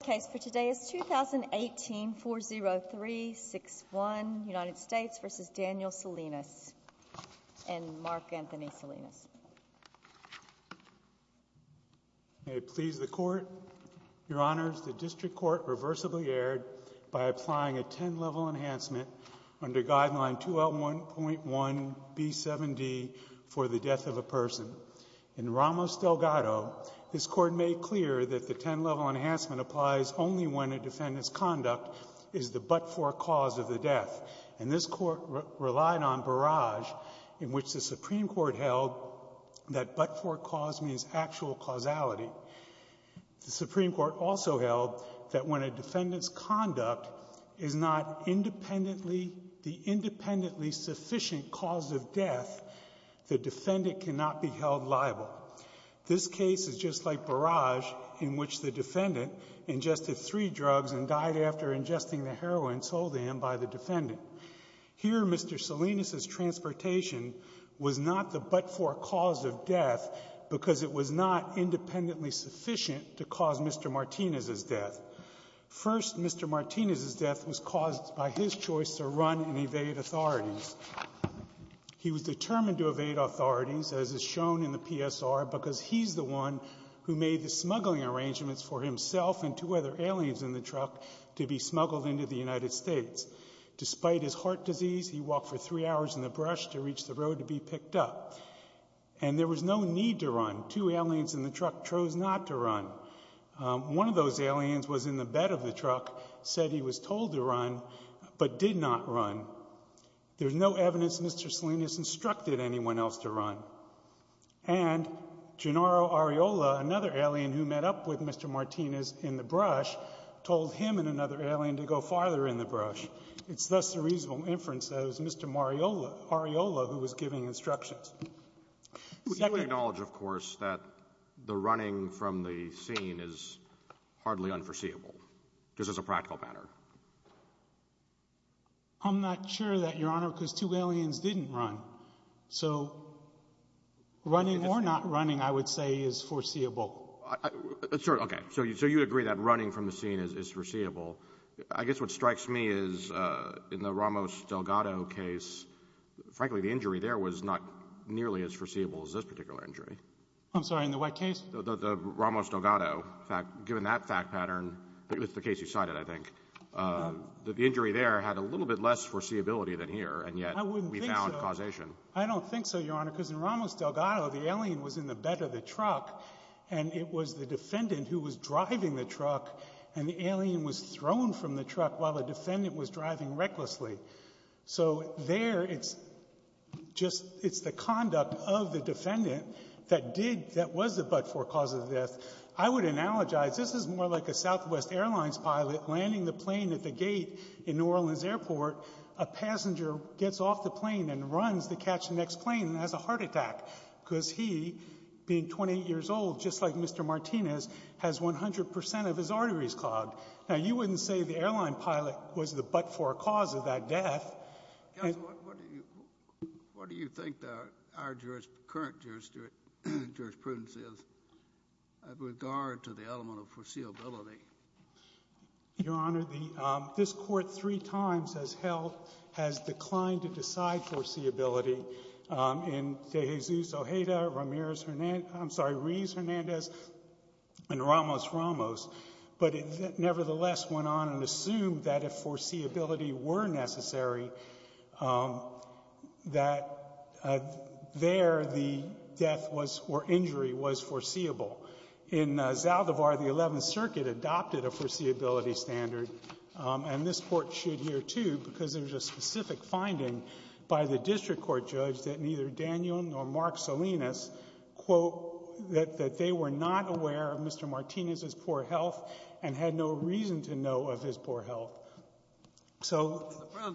The case for today is 2018-40361, United States v. Daniel Salinas, and Mark Anthony Salinas. May it please the Court, Your Honors, the District Court reversibly erred by applying a 10-level enhancement under Guideline 2L1.1B7D for the death of a person. In Ramos-Delgado, this Court made clear that the 10-level enhancement applies only when a defendant's conduct is the but-for cause of the death. And this Court relied on Barrage, in which the Supreme Court held that but-for cause means actual causality. The Supreme Court also held that when a defendant's conduct is not the independently sufficient cause of death, the defendant cannot be held liable. This case is just like Barrage, in which the defendant ingested three drugs and died after ingesting the heroin sold to him by the defendant. Here, Mr. Salinas' transportation was not the but-for cause of death because it was not independently sufficient to cause Mr. Martinez's death. First, Mr. Martinez's death was caused by his choice to run and evade authorities. He was determined to evade authorities, as is shown in the PSR, because he's the one who made the smuggling arrangements for himself and two other aliens in the truck to be smuggled into the United States. Despite his heart disease, he walked for three hours in the brush to reach the road to be picked up, and there was no need to run. Two aliens in the truck chose not to run. One of those aliens was in the bed of the truck, said he was told to run, but did not run. There's no evidence Mr. Salinas instructed anyone else to run. And Gennaro Arriola, another alien who met up with Mr. Martinez in the brush, told him and another alien to go farther in the brush. It's thus a reasonable inference that it was Mr. Arriola who was giving instructions. Second — Would you acknowledge, of course, that the running from the scene is hardly unforeseeable, just as a practical matter? I'm not sure of that, Your Honor, because two aliens didn't run. So running or not running, I would say, is foreseeable. Okay. So you agree that running from the scene is foreseeable. I guess what strikes me is in the Ramos-Delgado case, frankly, the injury there was not nearly as foreseeable as this particular injury. I'm sorry. In the what case? The Ramos-Delgado. Given that fact pattern, it was the case you cited, I think, that the injury there had a little bit less foreseeability than here, and yet we found causation. I don't think so, Your Honor, because in Ramos-Delgado, the alien was in the bed of the truck, and it was the defendant who was driving the truck, and the alien was thrown from the truck while the defendant was driving recklessly. So there it's just — it's the conduct of the defendant that did — that was the but-for cause of death. I would analogize. This is more like a Southwest Airlines pilot landing the plane at the gate in New Orleans Airport. A passenger gets off the plane and runs to catch the next plane and has a heart attack because he, being 28 years old, just like Mr. Martinez, has 100 percent of his arteries clogged. Now, you wouldn't say the airline pilot was the but-for cause of that death. Counsel, what do you think our current jurisprudence is with regard to the element of foreseeability? Your Honor, this Court three times has held — has declined to decide foreseeability in De Jesus Ojeda, Ramirez-Hernandez — I'm sorry, Rees-Hernandez and Ramos-Ramos, but it nevertheless went on and assumed that if foreseeability were necessary, that there the death was — or injury was foreseeable. In Zaldivar, the Eleventh Circuit adopted a foreseeability standard, and this Court should here, too, because there's a specific finding by the district court judge that neither Daniel nor Mark Salinas, quote, that they were not aware of Mr. Martinez's poor health and had no reason to know of his poor health. So —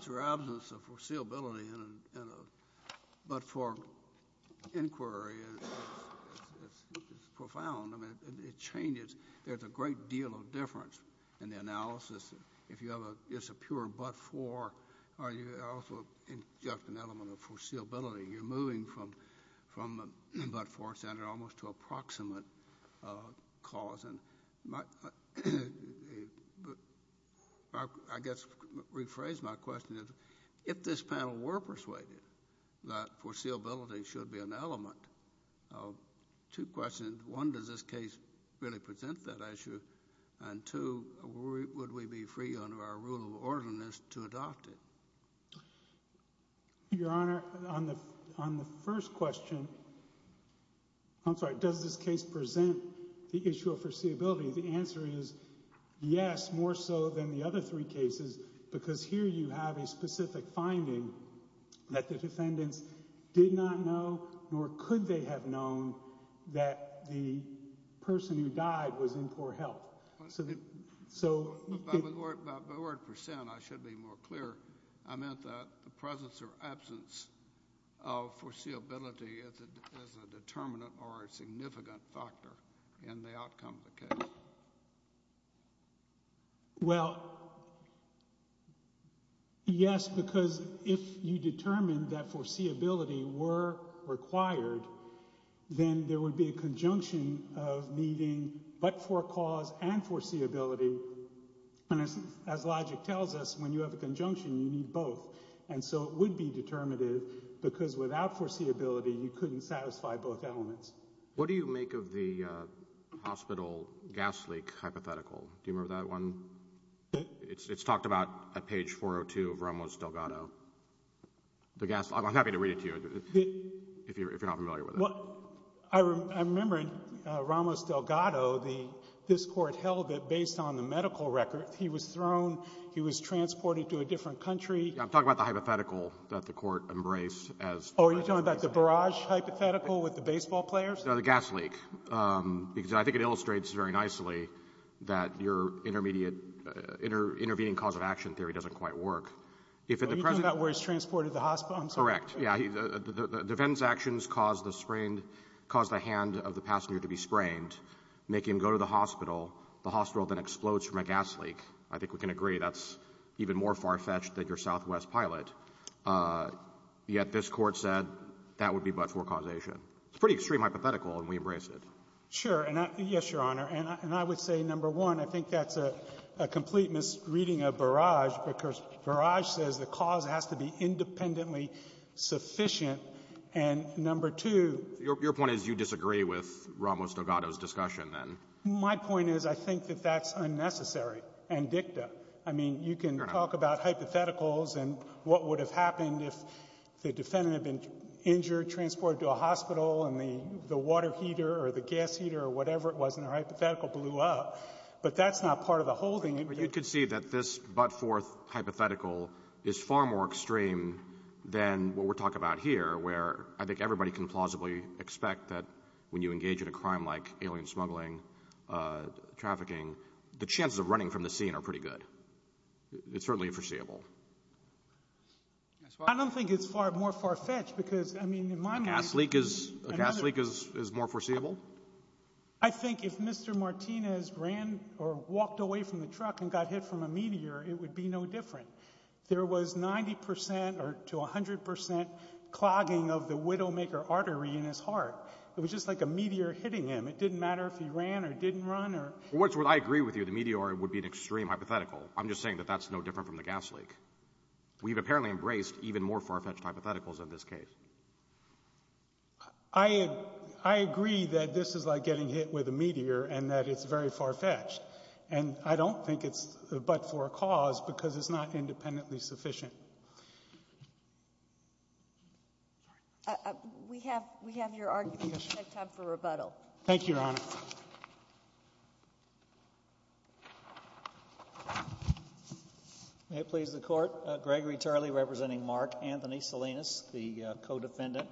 I mean, it changes. There's a great deal of difference in the analysis. If you have a — it's a pure but-for, or you also just an element of foreseeability. You're moving from but-for standard almost to approximate cause. And my — I guess rephrase my question is, if this panel were persuaded that foreseeability should be an element, two questions. One, does this case really present that issue? And two, would we be free under our rule of orderliness to adopt it? Your Honor, on the first question — I'm sorry, does this case present the issue of foreseeability? The answer is yes, more so than the other three cases, because here you have a specific finding that the defendants did not know, nor could they have known that the person who died was in poor health. So — By the word percent, I should be more clear. I meant that the presence or absence of foreseeability as a determinant or a significant factor in the outcome of the case. Well, yes, because if you determine that foreseeability were required, then there would be a conjunction of needing but-for cause and foreseeability. And as logic tells us, when you have a conjunction, you need both. And so it would be determinative, because without foreseeability, you couldn't satisfy both elements. What do you make of the hospital gas leak hypothetical? Do you remember that one? It's talked about at page 402 of Ramos-Delgado. The gas — I'm happy to read it to you if you're not familiar with it. Well, I remember in Ramos-Delgado, this court held that based on the medical record, he was thrown, he was transported to a different country. I'm talking about the hypothetical that the court embraced as — Oh, are you talking about the barrage hypothetical with the baseball players? No, the gas leak, because I think it illustrates very nicely that your intermediate — intervening cause-of-action theory doesn't quite work. If at the present — Are you talking about where he's transported to the hospital? I'm sorry. Correct. Yeah. The defendant's actions caused the hand of the passenger to be sprained, make him go to the hospital. The hospital then explodes from a gas leak. I think we can agree that's even more far-fetched than your Southwest pilot. Yet this Court said that would be but for causation. It's a pretty extreme hypothetical, and we embrace it. Sure. And I — yes, Your Honor. And I would say, number one, I think that's a complete misreading of barrage, because barrage says the cause has to be independently sufficient. And number two — Your point is you disagree with Ramos-Delgado's discussion, then. My point is I think that that's unnecessary and dicta. I mean, you can talk about hypotheticals and what would have happened if the defendant had been injured, transported to a hospital, and the water heater or the gas heater or whatever it was in their hypothetical blew up. But that's not part of the holding. But you can see that this but-forth hypothetical is far more extreme than what we're talking about here, where I think everybody can plausibly expect that when you engage in a crime like alien smuggling, trafficking, the chances of running from the scene are pretty good. It's certainly foreseeable. I don't think it's more far-fetched because, I mean, in my mind — A gas leak is more foreseeable? I think if Mr. Martinez ran or walked away from the truck and got hit from a meteor, it would be no different. There was 90 percent or to 100 percent clogging of the Widowmaker artery in his heart. It was just like a meteor hitting him. It didn't matter if he ran or didn't run or — I agree with you. The meteor would be an extreme hypothetical. I'm just saying that that's no different from the gas leak. We've apparently embraced even more far-fetched hypotheticals in this case. I agree that this is like getting hit with a meteor and that it's very far-fetched. And I don't think it's but-for cause because it's not independently sufficient. We have your argument. We have time for rebuttal. Thank you, Your Honor. May it please the Court. Gregory Tarley representing Mark Anthony Salinas, the co-defendant.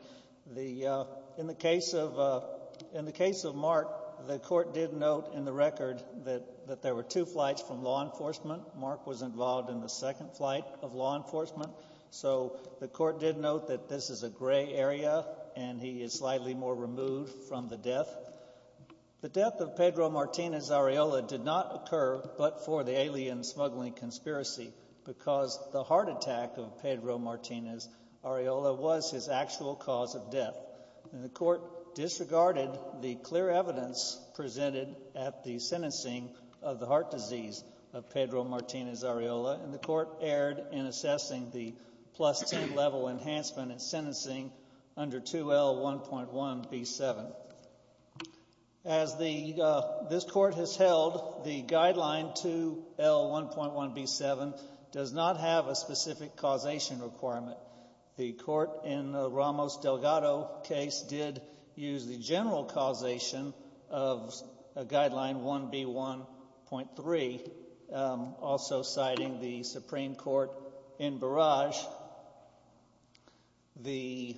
In the case of Mark, the Court did note in the record that there were two flights from law enforcement. Mark was involved in the second flight of law enforcement. So the Court did note that this is a gray area and he is slightly more removed from the death. The death of Pedro Martinez-Ariola did not occur but for the alien smuggling conspiracy because the heart attack of Pedro Martinez-Ariola was his actual cause of death. And the Court disregarded the clear evidence presented at the sentencing of the heart disease of Pedro Martinez-Ariola. And the Court erred in assessing the plus-10 level enhancement in sentencing under 2L1.1B7. As this Court has held, the guideline 2L1.1B7 does not have a specific causation requirement. The Court in the Ramos-Delgado case did use the general causation of guideline 1B1.3, also citing the Supreme Court in Barrage. The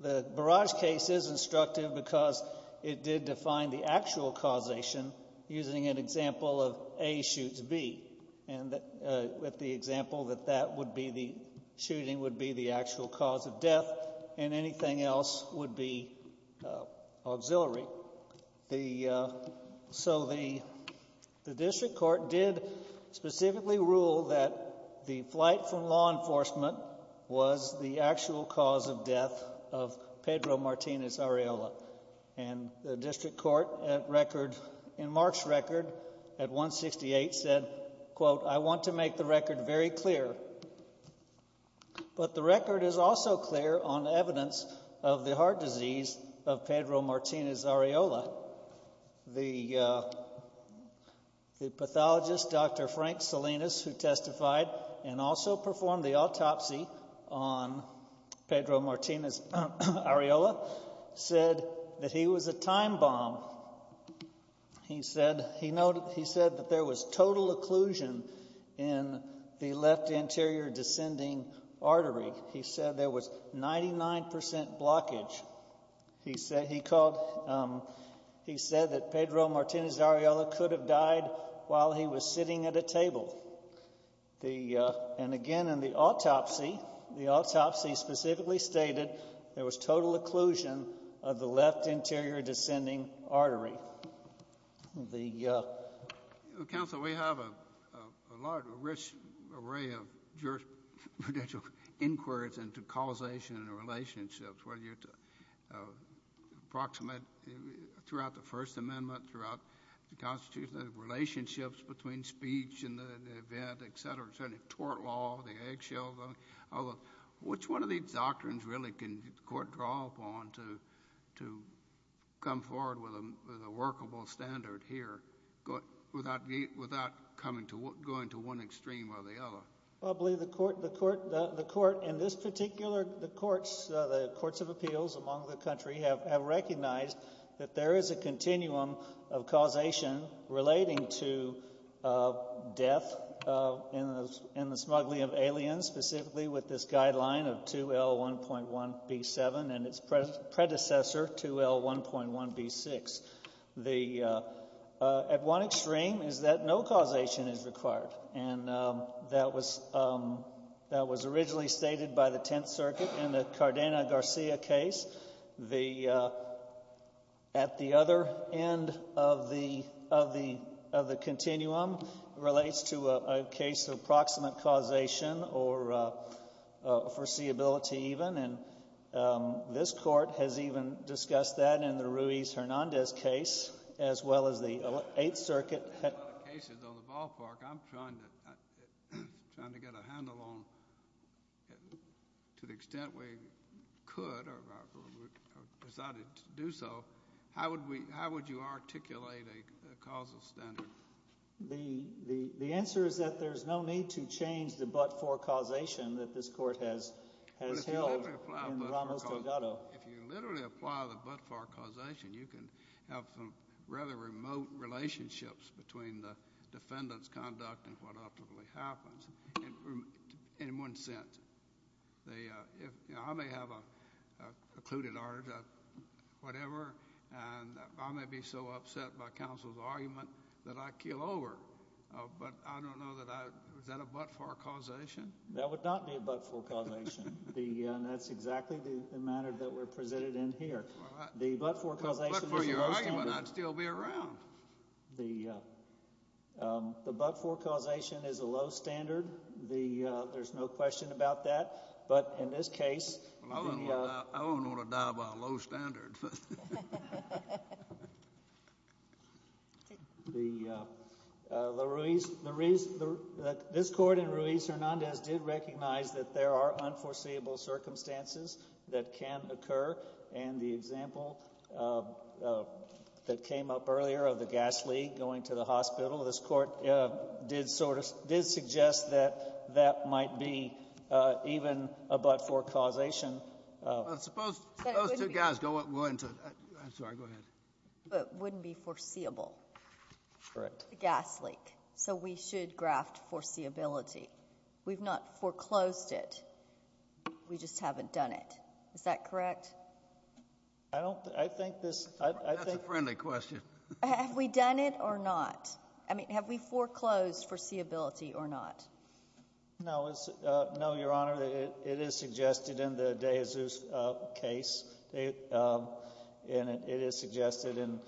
Barrage case is instructive because it did define the actual causation using an example of A shoots B with the example that the shooting would be the actual cause of death and anything else would be auxiliary. So the District Court did specifically rule that the flight from law enforcement was the actual cause of death of Pedro Martinez-Ariola. And the District Court in Mark's record at 168 said, quote, I want to make the record very clear. But the record is also clear on evidence of the heart disease of Pedro Martinez-Ariola. The pathologist, Dr. Frank Salinas, who testified and also performed the autopsy on Pedro Martinez-Ariola, said that he was a time bomb. He said that there was total occlusion in the left anterior descending artery. He said there was 99 percent blockage. He said that Pedro Martinez-Ariola could have died while he was sitting at a table. And again, in the autopsy, the autopsy specifically stated there was total occlusion of the left anterior descending artery. Counsel, we have a large, rich array of jurisprudential inquiries into causation and relationships, whether you approximate throughout the First Amendment, throughout the Constitution, the relationships between speech and the event, et cetera, the tort law, the eggshell law. Which one of these doctrines really can the Court draw upon to come forward with a workable standard here without going to one extreme or the other? Well, I believe the Court, in this particular, the Courts of Appeals among the country, have recognized that there is a continuum of causation relating to death in the smuggling of aliens, specifically with this guideline of 2L1.1B7 and its predecessor, 2L1.1B6. At one extreme is that no causation is required. And that was originally stated by the Tenth Circuit in the Cardena-Garcia case. At the other end of the continuum relates to a case of proximate causation or foreseeability even. And this Court has even discussed that in the Ruiz-Hernandez case as well as the Eighth Circuit. There's a lot of cases on the ballpark. I'm trying to get a handle on, to the extent we could or decided to do so, how would you articulate a causal standard? The answer is that there's no need to change the but-for causation that this Court has held in Ramos-Delgado. If you literally apply the but-for causation, you can have some rather remote relationships between the defendant's conduct and what ultimately happens in one sense. I may have a precluded order, whatever, and I may be so upset by counsel's argument that I keel over. But I don't know that I – is that a but-for causation? That would not be a but-for causation. That's exactly the manner that we're presented in here. The but-for causation is a low standard. But for your argument, I'd still be around. The but-for causation is a low standard. There's no question about that. But in this case – I wouldn't want to die by a low standard. The – this Court in Ruiz-Hernandez did recognize that there are unforeseeable circumstances that can occur. And the example that came up earlier of the gas leak going to the hospital, this Court did sort of – did suggest that that might be even a but-for causation. Suppose those two guys go into – I'm sorry. Go ahead. But it wouldn't be foreseeable. Correct. The gas leak. So we should graft foreseeability. We've not foreclosed it. We just haven't done it. Is that correct? I don't – I think this – I think – That's a friendly question. Have we done it or not? I mean, have we foreclosed foreseeability or not? No. No, Your Honor. It is suggested in the De Jesus case. And it is suggested in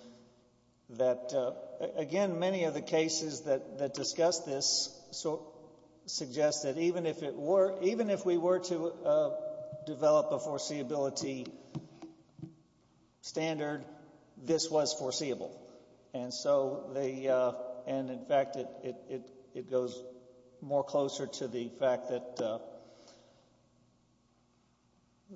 that – again, many of the cases that discuss this suggest that even if it were – even if we were to develop a foreseeability standard, this was foreseeable. And so the – and in fact, it goes more closer to the fact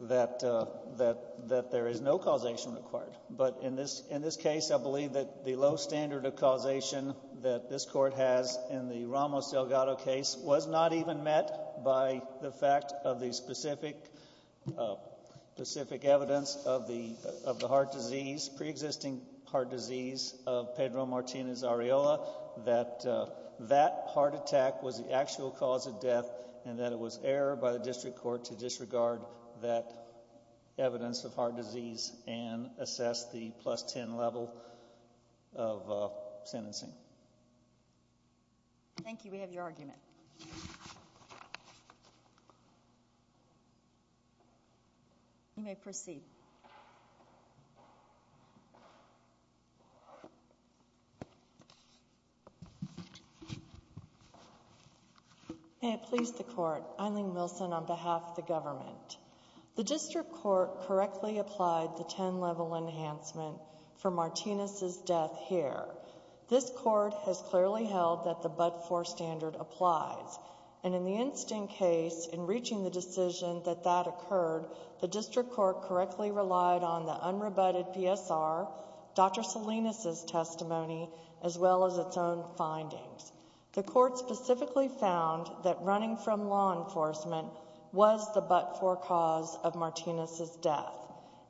that there is no causation required. But in this case, I believe that the low standard of causation that this Court has in the Ramos-Delgado case was not even met by the fact of the specific evidence of the heart disease, pre-existing heart disease of Pedro Martinez-Ariola, that that heart attack was the actual cause of death and that it was error by the district court to disregard that evidence of heart disease and assess the plus 10 level of sentencing. Thank you. We have your argument. You may proceed. May it please the Court. Eileen Wilson on behalf of the government. The district court correctly applied the 10 level enhancement for Martinez's death here. This court has clearly held that the but-for standard applies. And in the instant case, in reaching the decision that that occurred, the district court correctly relied on the unrebutted PSR, Dr. Salinas' testimony, as well as its own findings. The court specifically found that running from law enforcement was the but-for cause of Martinez's death.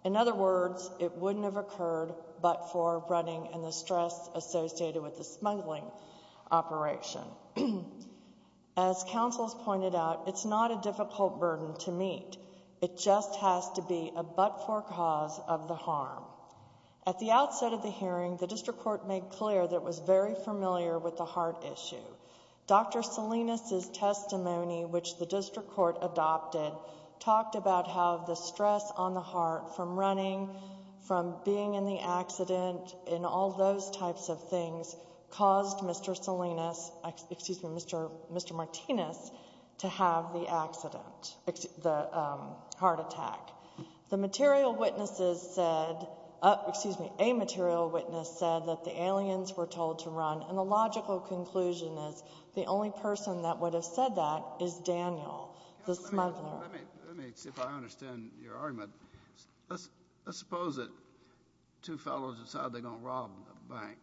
In other words, it wouldn't have occurred but for running and the stress associated with the smuggling operation. As counsels pointed out, it's not a difficult burden to meet. It just has to be a but-for cause of the harm. At the outset of the hearing, the district court made clear that it was very familiar with the heart issue. Dr. Salinas' testimony, which the district court adopted, talked about how the stress on the heart from running, from being in the accident, and all those types of things caused Mr. Salinas, excuse me, Mr. Martinez, to have the accident, the heart attack. The material witnesses said, excuse me, a material witness said that the aliens were told to run. And the logical conclusion is the only person that would have said that is Daniel, the smuggler. Let me see if I understand your argument. Let's suppose that two fellows decide they're going to rob a bank,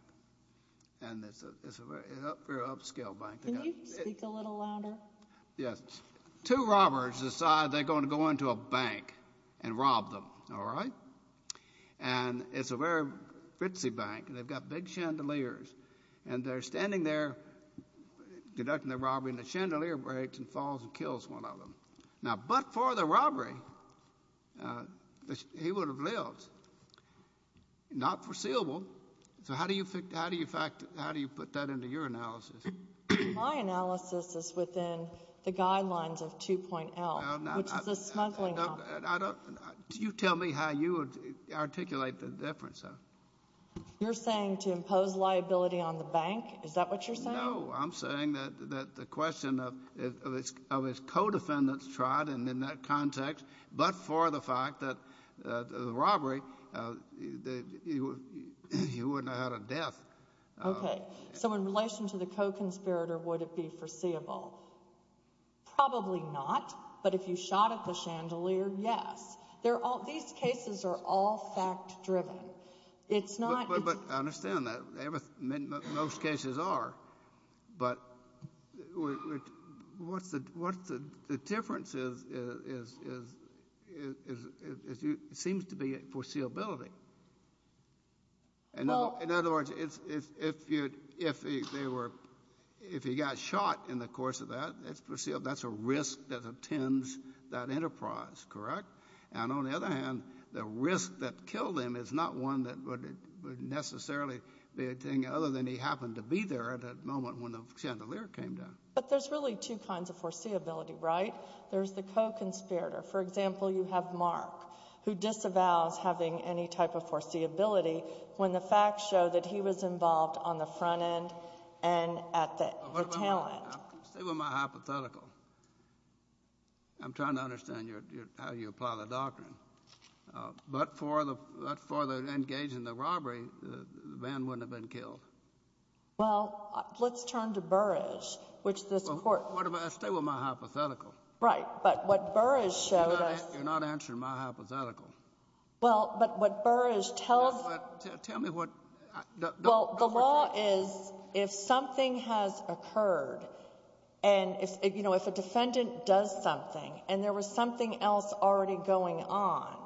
and it's a very upscale bank. Can you speak a little louder? Yes. Two robbers decide they're going to go into a bank and rob them, all right? And it's a very ritzy bank, and they've got big chandeliers, and they're standing there conducting the robbery, and the chandelier breaks and falls and kills one of them. Now, but-for the robbery, he would have lived. Not foreseeable. So how do you put that into your analysis? My analysis is within the guidelines of 2.L, which is a smuggling office. You tell me how you would articulate the difference. You're saying to impose liability on the bank? Is that what you're saying? No, I'm saying that the question of his co-defendants tried, and in that context, but for the fact that the robbery, he wouldn't have had a death. Okay. So in relation to the co-conspirator, would it be foreseeable? Probably not, but if you shot at the chandelier, yes. These cases are all fact-driven. It's not- But I understand that. Most cases are, but what's the difference is it seems to be foreseeability. In other words, if he got shot in the course of that, that's a risk that attends that enterprise, correct? And on the other hand, the risk that killed him is not one that would necessarily be a thing, other than he happened to be there at that moment when the chandelier came down. But there's really two kinds of foreseeability, right? There's the co-conspirator. For example, you have Mark, who disavows having any type of foreseeability when the facts show that he was involved on the front end and at the tail end. Stay with my hypothetical. I'm trying to understand how you apply the doctrine. But for the engage in the robbery, the man wouldn't have been killed. Well, let's turn to Burrage, which this Court- Stay with my hypothetical. Right. But what Burrage showed us- You're not answering my hypothetical. Well, but what Burrage tells- Tell me what- Well, the law is if something has occurred and, you know, if a defendant does something and there was something else already going on,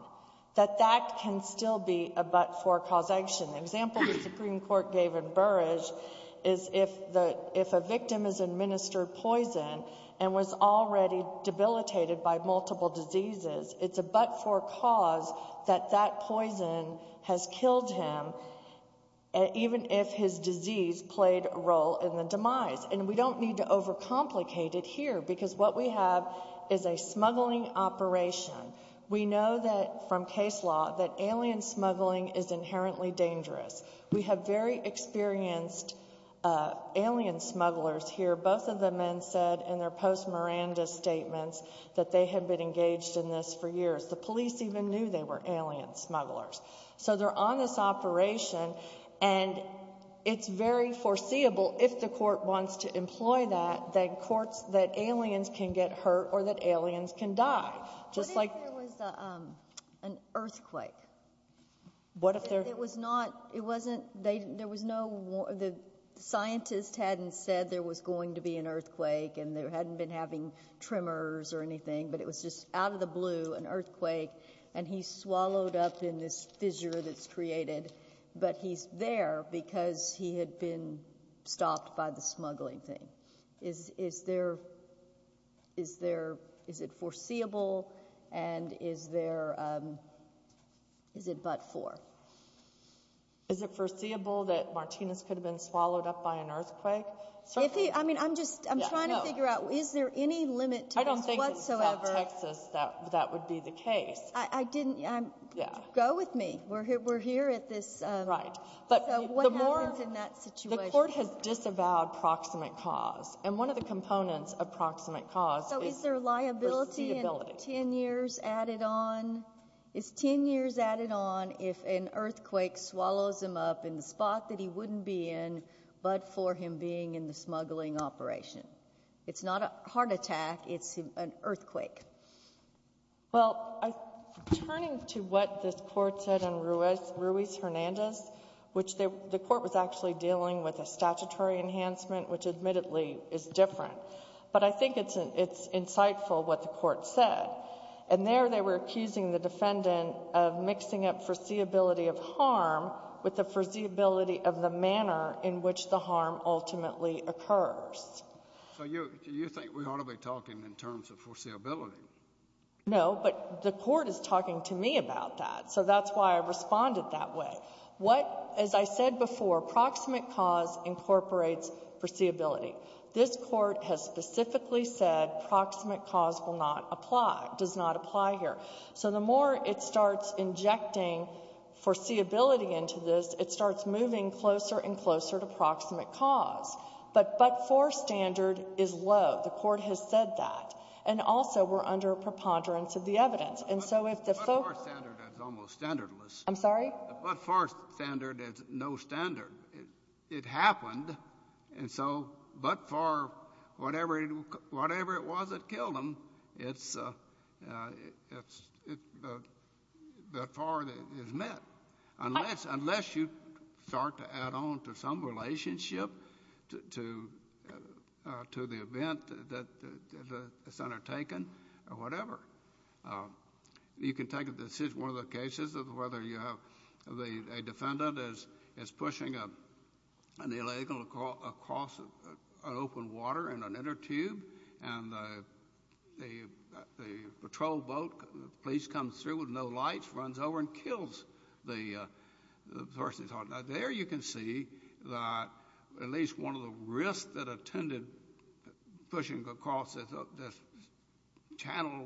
that that can still be a but-for-cause action. The example the Supreme Court gave in Burrage is if a victim has administered poison and was already debilitated by multiple diseases, it's a but-for-cause that that poison has killed him even if his disease played a role in the demise. And we don't need to overcomplicate it here because what we have is a smuggling operation. We know that from case law that alien smuggling is inherently dangerous. We have very experienced alien smugglers here. Both of the men said in their post-Miranda statements that they had been engaged in this for years. The police even knew they were alien smugglers. So they're on this operation, and it's very foreseeable, if the Court wants to employ that, that aliens can get hurt or that aliens can die. What if there was an earthquake? What if there was not? It wasn't. There was no. The scientist hadn't said there was going to be an earthquake and they hadn't been having tremors or anything, but it was just out of the blue, an earthquake, and he swallowed up in this fissure that's created, but he's there because he had been stopped by the smuggling thing. Is it foreseeable, and is it but for? Is it foreseeable that Martinez could have been swallowed up by an earthquake? I'm trying to figure out, is there any limit to this whatsoever? I don't think in South Texas that would be the case. Go with me. We're here at this. Right. So what happens in that situation? The Court has disavowed proximate cause, and one of the components of proximate cause is foreseeability. So is there liability in 10 years added on? Is 10 years added on if an earthquake swallows him up in the spot that he wouldn't be in, but for him being in the smuggling operation? It's not a heart attack. It's an earthquake. Well, turning to what this Court said in Ruiz-Hernandez, which the Court was actually dealing with a statutory enhancement, which admittedly is different, but I think it's insightful what the Court said. And there they were accusing the defendant of mixing up foreseeability of harm with the foreseeability of the manner in which the harm ultimately occurs. So you think we ought to be talking in terms of foreseeability? No, but the Court is talking to me about that. So that's why I responded that way. What, as I said before, proximate cause incorporates foreseeability. This Court has specifically said proximate cause will not apply, does not apply here. So the more it starts injecting foreseeability into this, it starts moving closer and closer to proximate cause. But but-for standard is low. The Court has said that. And also we're under a preponderance of the evidence. And so if the folks — But but-for standard is almost standardless. I'm sorry? But but-for standard is no standard. It happened. And so but-for, whatever it was that killed him, it's but-for is met. Unless you start to add on to some relationship to the event that it's undertaken or whatever. You can take a decision, one of the cases, of whether you have a defendant is pushing an illegal across an open water in an inner tube, and the patrol boat police comes through with no lights, runs over and kills the person. Now, there you can see that at least one of the risks that attended pushing across this channel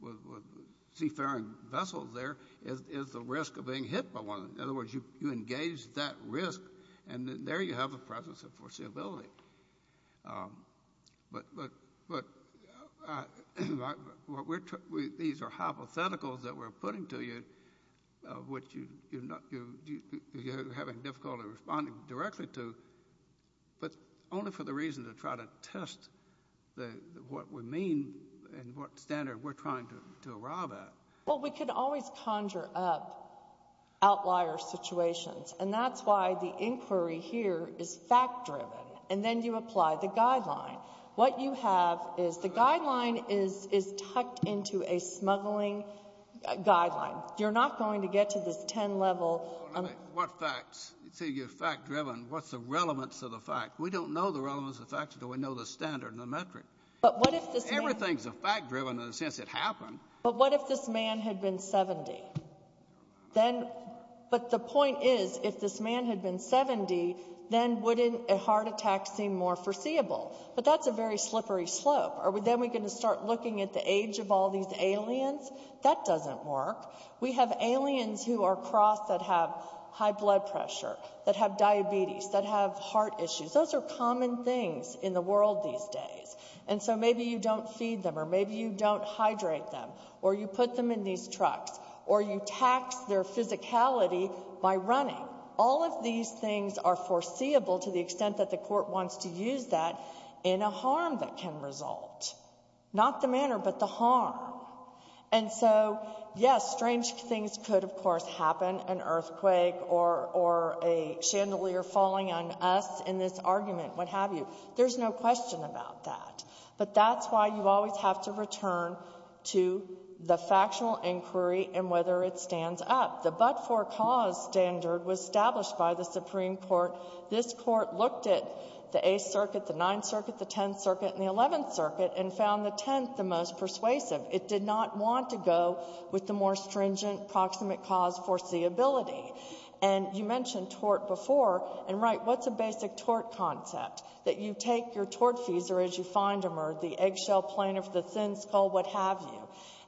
with seafaring vessels there is the risk of being hit by one. In other words, you engage that risk, and there you have the presence of foreseeability. But these are hypotheticals that we're putting to you, which you're having difficulty responding directly to, but only for the reason to try to test what we mean and what standard we're trying to arrive at. Well, we can always conjure up outlier situations. And that's why the inquiry here is fact-driven. And then you apply the guideline. What you have is the guideline is tucked into a smuggling guideline. You're not going to get to this 10-level of what facts. See, you're fact-driven. What's the relevance of the fact? We don't know the relevance of the fact until we know the standard and the metric. But what if this man — Everything's fact-driven in the sense it happened. But what if this man had been 70? But the point is, if this man had been 70, then wouldn't a heart attack seem more foreseeable? But that's a very slippery slope. Are we then going to start looking at the age of all these aliens? That doesn't work. We have aliens who are crossed that have high blood pressure, that have diabetes, that have heart issues. Those are common things in the world these days. And so maybe you don't feed them, or maybe you don't hydrate them, or you put them in these trucks, or you tax their physicality by running. All of these things are foreseeable to the extent that the Court wants to use that in a harm that can result. Not the manner, but the harm. And so, yes, strange things could, of course, happen, an earthquake or a chandelier falling on us in this argument, what have you. There's no question about that. But that's why you always have to return to the factual inquiry and whether it stands up. The but-for-cause standard was established by the Supreme Court. This Court looked at the Eighth Circuit, the Ninth Circuit, the Tenth Circuit, and the Eleventh Circuit and found the Tenth the most persuasive. It did not want to go with the more stringent proximate cause foreseeability. And you mentioned tort before. And, right, what's a basic tort concept? That you take your tort fees, or as you find them, or the eggshell plaintiff, the thin skull, what have you.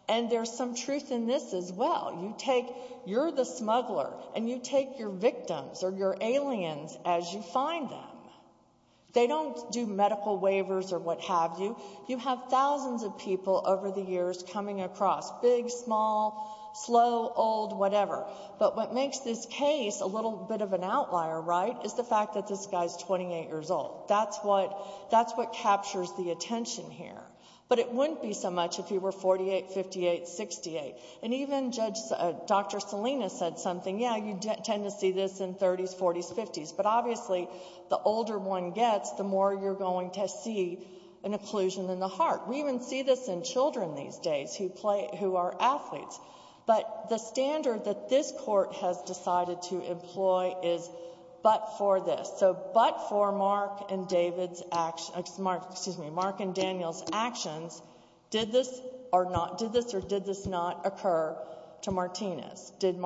And there's some truth in this as well. You take, you're the smuggler, and you take your victims or your aliens as you find them. They don't do medical waivers or what have you. You have thousands of people over the years coming across, big, small, slow, old, whatever. But what makes this case a little bit of an outlier, right, is the fact that this guy's 28 years old. That's what captures the attention here. But it wouldn't be so much if he were 48, 58, 68. And even Judge Dr. Salinas said something, yeah, you tend to see this in 30s, 40s, 50s. But, obviously, the older one gets, the more you're going to see an occlusion in the heart. We even see this in children these days who are athletes. But the standard that this court has decided to employ is but for this. So but for Mark and David's, excuse me, Mark and Daniel's actions, did this or not, did this or did this not occur to Martinez? Did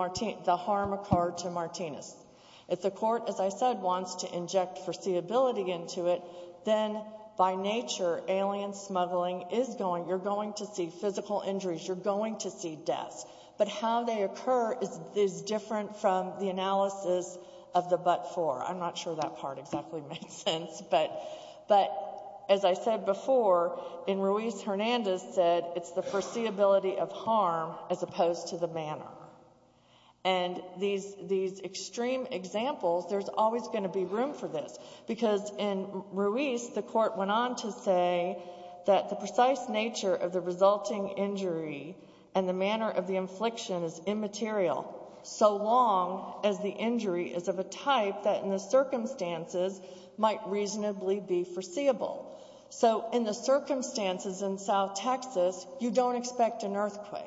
the harm occur to Martinez? If the court, as I said, wants to inject foreseeability into it, then, by nature, alien smuggling is going, you're going to see physical injuries, you're going to see deaths. But how they occur is different from the analysis of the but for. I'm not sure that part exactly makes sense. But, as I said before, and Ruiz-Hernandez said, it's the foreseeability of harm as opposed to the manner. And these extreme examples, there's always going to be room for this. Because in Ruiz, the court went on to say that the precise nature of the resulting injury and the manner of the infliction is immaterial so long as the injury is of a type that, in the circumstances, might reasonably be foreseeable. So in the circumstances in South Texas, you don't expect an earthquake.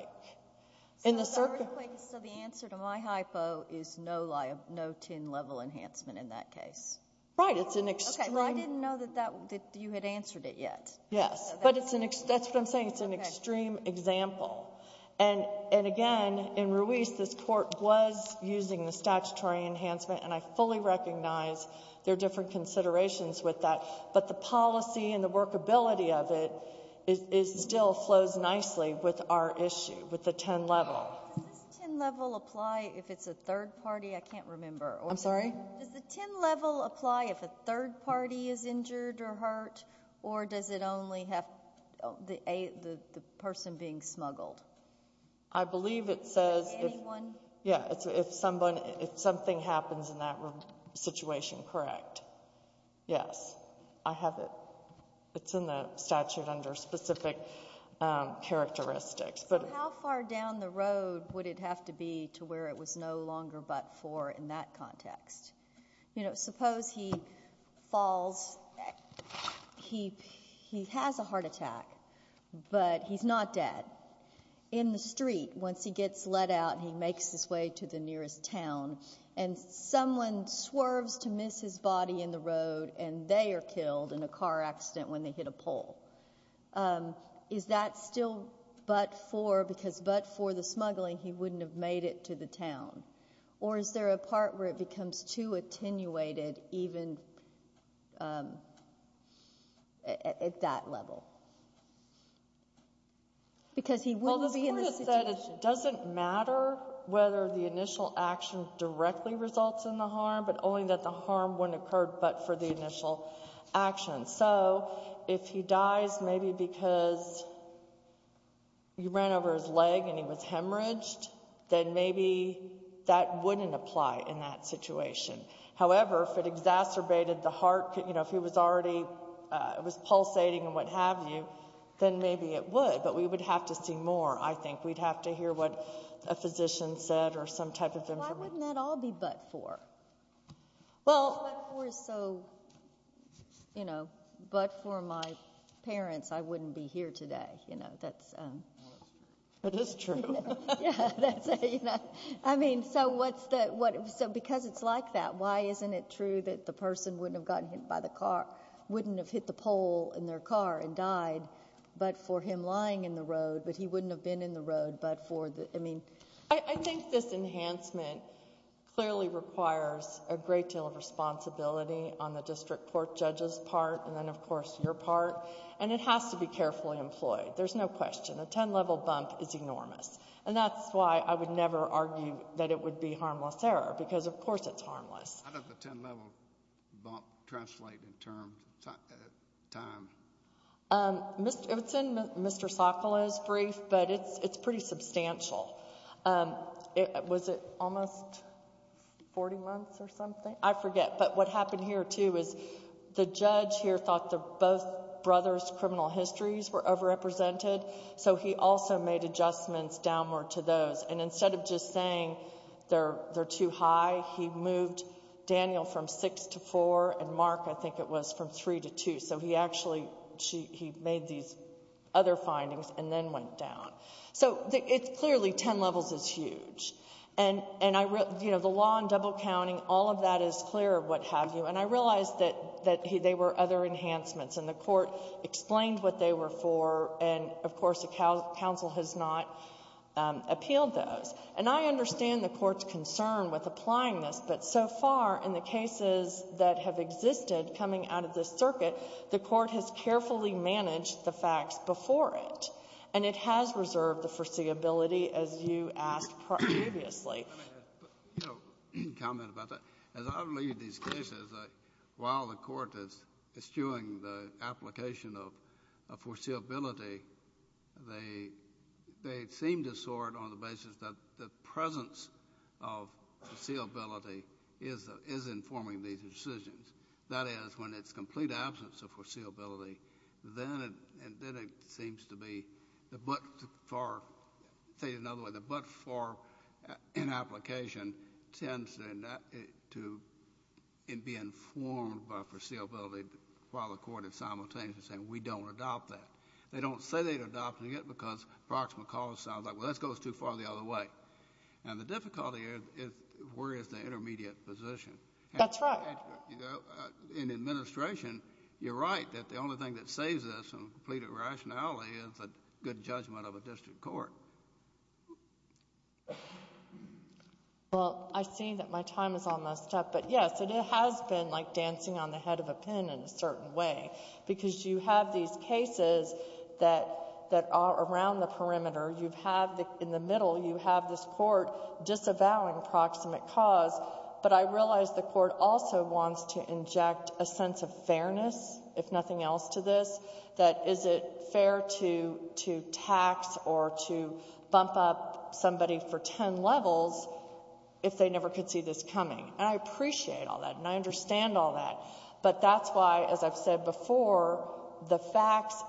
So the answer to my hypo is no TIN level enhancement in that case? Right. I didn't know that you had answered it yet. Yes. But that's what I'm saying. It's an extreme example. And, again, in Ruiz, this court was using the statutory enhancement, and I fully recognize there are different considerations with that. But the policy and the workability of it still flows nicely with our issue, with the TIN level. Does this TIN level apply if it's a third party? I can't remember. I'm sorry? Does the TIN level apply if a third party is injured or hurt, or does it only have the person being smuggled? I believe it says if something happens in that situation, correct. Yes. I have it. It's in the statute under specific characteristics. So how far down the road would it have to be to where it was no longer but for in that context? You know, suppose he falls. He has a heart attack, but he's not dead. In the street, once he gets let out, he makes his way to the nearest town, and someone swerves to miss his body in the road, and they are killed in a car accident when they hit a pole. Is that still but for the smuggling? He wouldn't have made it to the town. Or is there a part where it becomes too attenuated even at that level? Because he wouldn't be in the situation. Well, the court has said it doesn't matter whether the initial action directly results in the harm, but only that the harm wouldn't occur but for the initial action. So if he dies maybe because you ran over his leg and he was hemorrhaged, then maybe that wouldn't apply in that situation. However, if it exacerbated the heart, you know, if he was already pulsating and what have you, then maybe it would. But we would have to see more, I think. We'd have to hear what a physician said or some type of information. Why wouldn't that all be but for? Well, but for is so, you know, but for my parents, I wouldn't be here today. You know, that's. Well, that's true. It is true. I mean, so what's that? So because it's like that, why isn't it true that the person wouldn't have gotten hit by the car, wouldn't have hit the pole in their car and died but for him lying in the road, but he wouldn't have been in the road but for the, I mean. I think this enhancement clearly requires a great deal of responsibility on the district court judge's part and then, of course, your part. And it has to be carefully employed. There's no question. A 10-level bump is enormous. And that's why I would never argue that it would be harmless error because, of course, it's harmless. How does the 10-level bump translate in terms of time? It's in Mr. Sokolow's brief, but it's pretty substantial. Was it almost 40 months or something? I forget. But what happened here, too, is the judge here thought that both brothers' criminal histories were overrepresented, so he also made adjustments downward to those. And instead of just saying they're too high, he moved Daniel from 6 to 4 and Mark, I think it was, from 3 to 2. So he actually made these other findings and then went down. So it's clearly 10 levels is huge. And, you know, the law on double counting, all of that is clear, what have you. And I realize that they were other enhancements, and the Court explained what they were for. And, of course, the counsel has not appealed those. And I understand the Court's concern with applying this, but so far in the cases that have existed coming out of this circuit, the Court has carefully managed the facts before it. And it has reserved the foreseeability, as you asked previously. Let me comment about that. As I read these cases, while the Court is eschewing the application of foreseeability, they seem to sort on the basis that the presence of foreseeability is informing these decisions. That is, when it's complete absence of foreseeability, then it seems to be the but-for, say it another way, the but-for in application tends to be informed by foreseeability while the Court is simultaneously saying, we don't adopt that. They don't say they're adopting it because the proximal cause sounds like, well, that goes too far the other way. And the difficulty is, where is the intermediate position? That's right. In administration, you're right that the only thing that saves us from complete irrationality is a good judgment of a district court. Well, I see that my time is almost up. But, yes, it has been like dancing on the head of a pin in a certain way, because you have these cases that are around the perimeter. You have in the middle, you have this Court disavowing proximate cause. But I realize the Court also wants to inject a sense of fairness, if nothing else, to this, that is it fair to tax or to bump up somebody for ten levels if they never could see this coming. And I appreciate all that, and I understand all that. But that's why, as I've said before, the facts,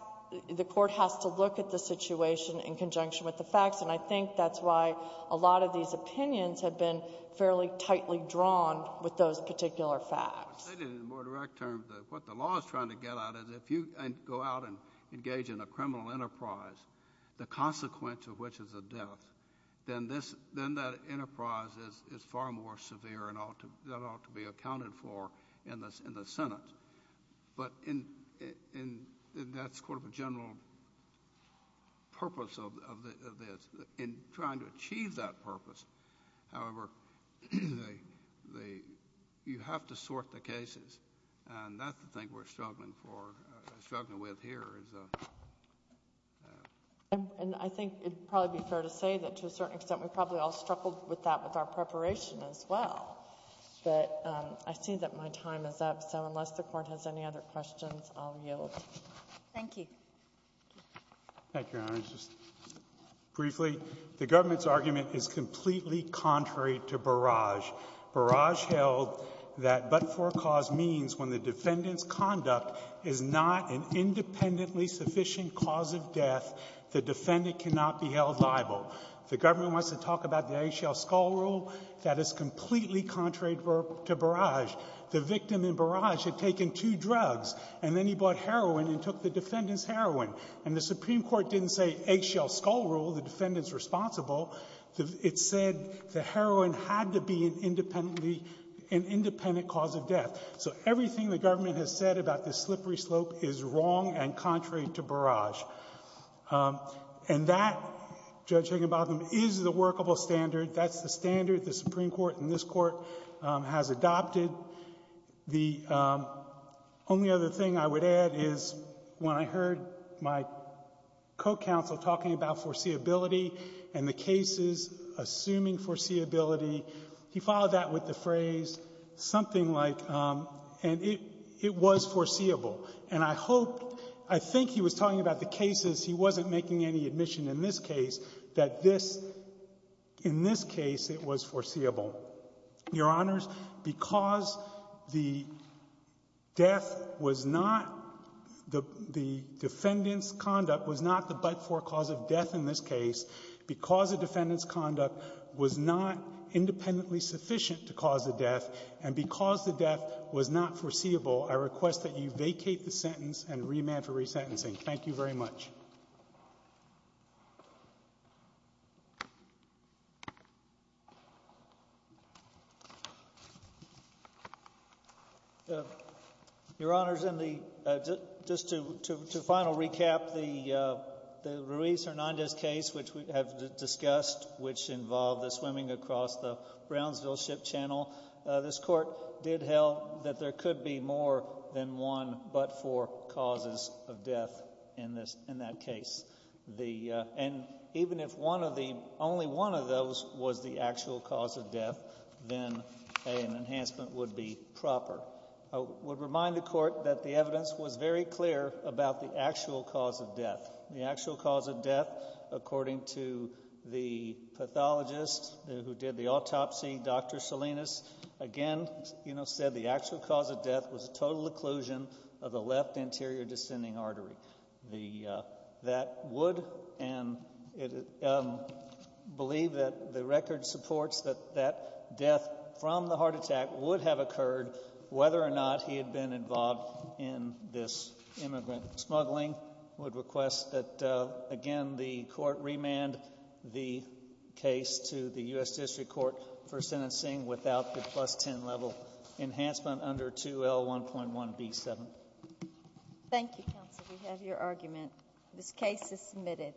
the Court has to look at the situation in conjunction with the facts. And I think that's why a lot of these opinions have been fairly tightly drawn with those particular facts. In more direct terms, what the law is trying to get at is if you go out and engage in a criminal enterprise, the consequence of which is a death, then that enterprise is far more severe and ought to be accounted for in the Senate. But that's sort of a general purpose of this, in trying to achieve that purpose. However, you have to sort the cases, and that's the thing we're struggling with here. And I think it would probably be fair to say that to a certain extent we probably all struggled with that with our preparation as well. But I see that my time is up, so unless the Court has any other questions, I'll yield. Thank you. Thank you, Your Honors. Just briefly, the government's argument is completely contrary to Barrage. Barrage held that but-for cause means when the defendant's conduct is not an independently sufficient cause of death, the defendant cannot be held liable. The government wants to talk about the eggshell skull rule. That is completely contrary to Barrage. The victim in Barrage had taken two drugs, and then he bought heroin and took the defendant's heroin. And the Supreme Court didn't say eggshell skull rule, the defendant's responsible. It said the heroin had to be an independently — an independent cause of death. So everything the government has said about this slippery slope is wrong and contrary to Barrage. And that, Judge Higginbotham, is the workable standard. That's the standard the Supreme Court and this Court has adopted. The only other thing I would add is when I heard my co-counsel talking about foreseeability and the cases assuming foreseeability, he followed that with the phrase something like — and it was foreseeable. And I hope — I think he was talking about the cases. He wasn't making any admission in this case that this — in this case, it was foreseeable. Your Honors, because the death was not — the defendant's conduct was not the but-for cause of death in this case, because the defendant's conduct was not independently sufficient to cause the death, and because the death was not foreseeable, I request that you vacate the sentence and remand for resentencing. Thank you very much. Your Honors, in the — just to final recap, the Ruiz-Hernandez case, which we have discussed, which involved the swimming across the Brownsville Ship Channel, this Court did held that there could be more than one but-for causes of death in this — in that case. The — and even if one of the — only one of those was the actual cause of death, then an enhancement would be proper. I would remind the Court that the evidence was very clear about the actual cause of death. The actual cause of death, according to the pathologist who did the autopsy, Dr. Salinas, again, you know, said the actual cause of death was a total occlusion of the left anterior descending artery. The — that would — and it — believe that the record supports that that death from the heart attack would have occurred whether or not he had been involved in this immigrant smuggling. I would request that, again, the Court remand the case to the U.S. District Court for sentencing without the plus-10 level enhancement under 2L1.1B7. Thank you, Counsel. We have your argument. This case is submitted.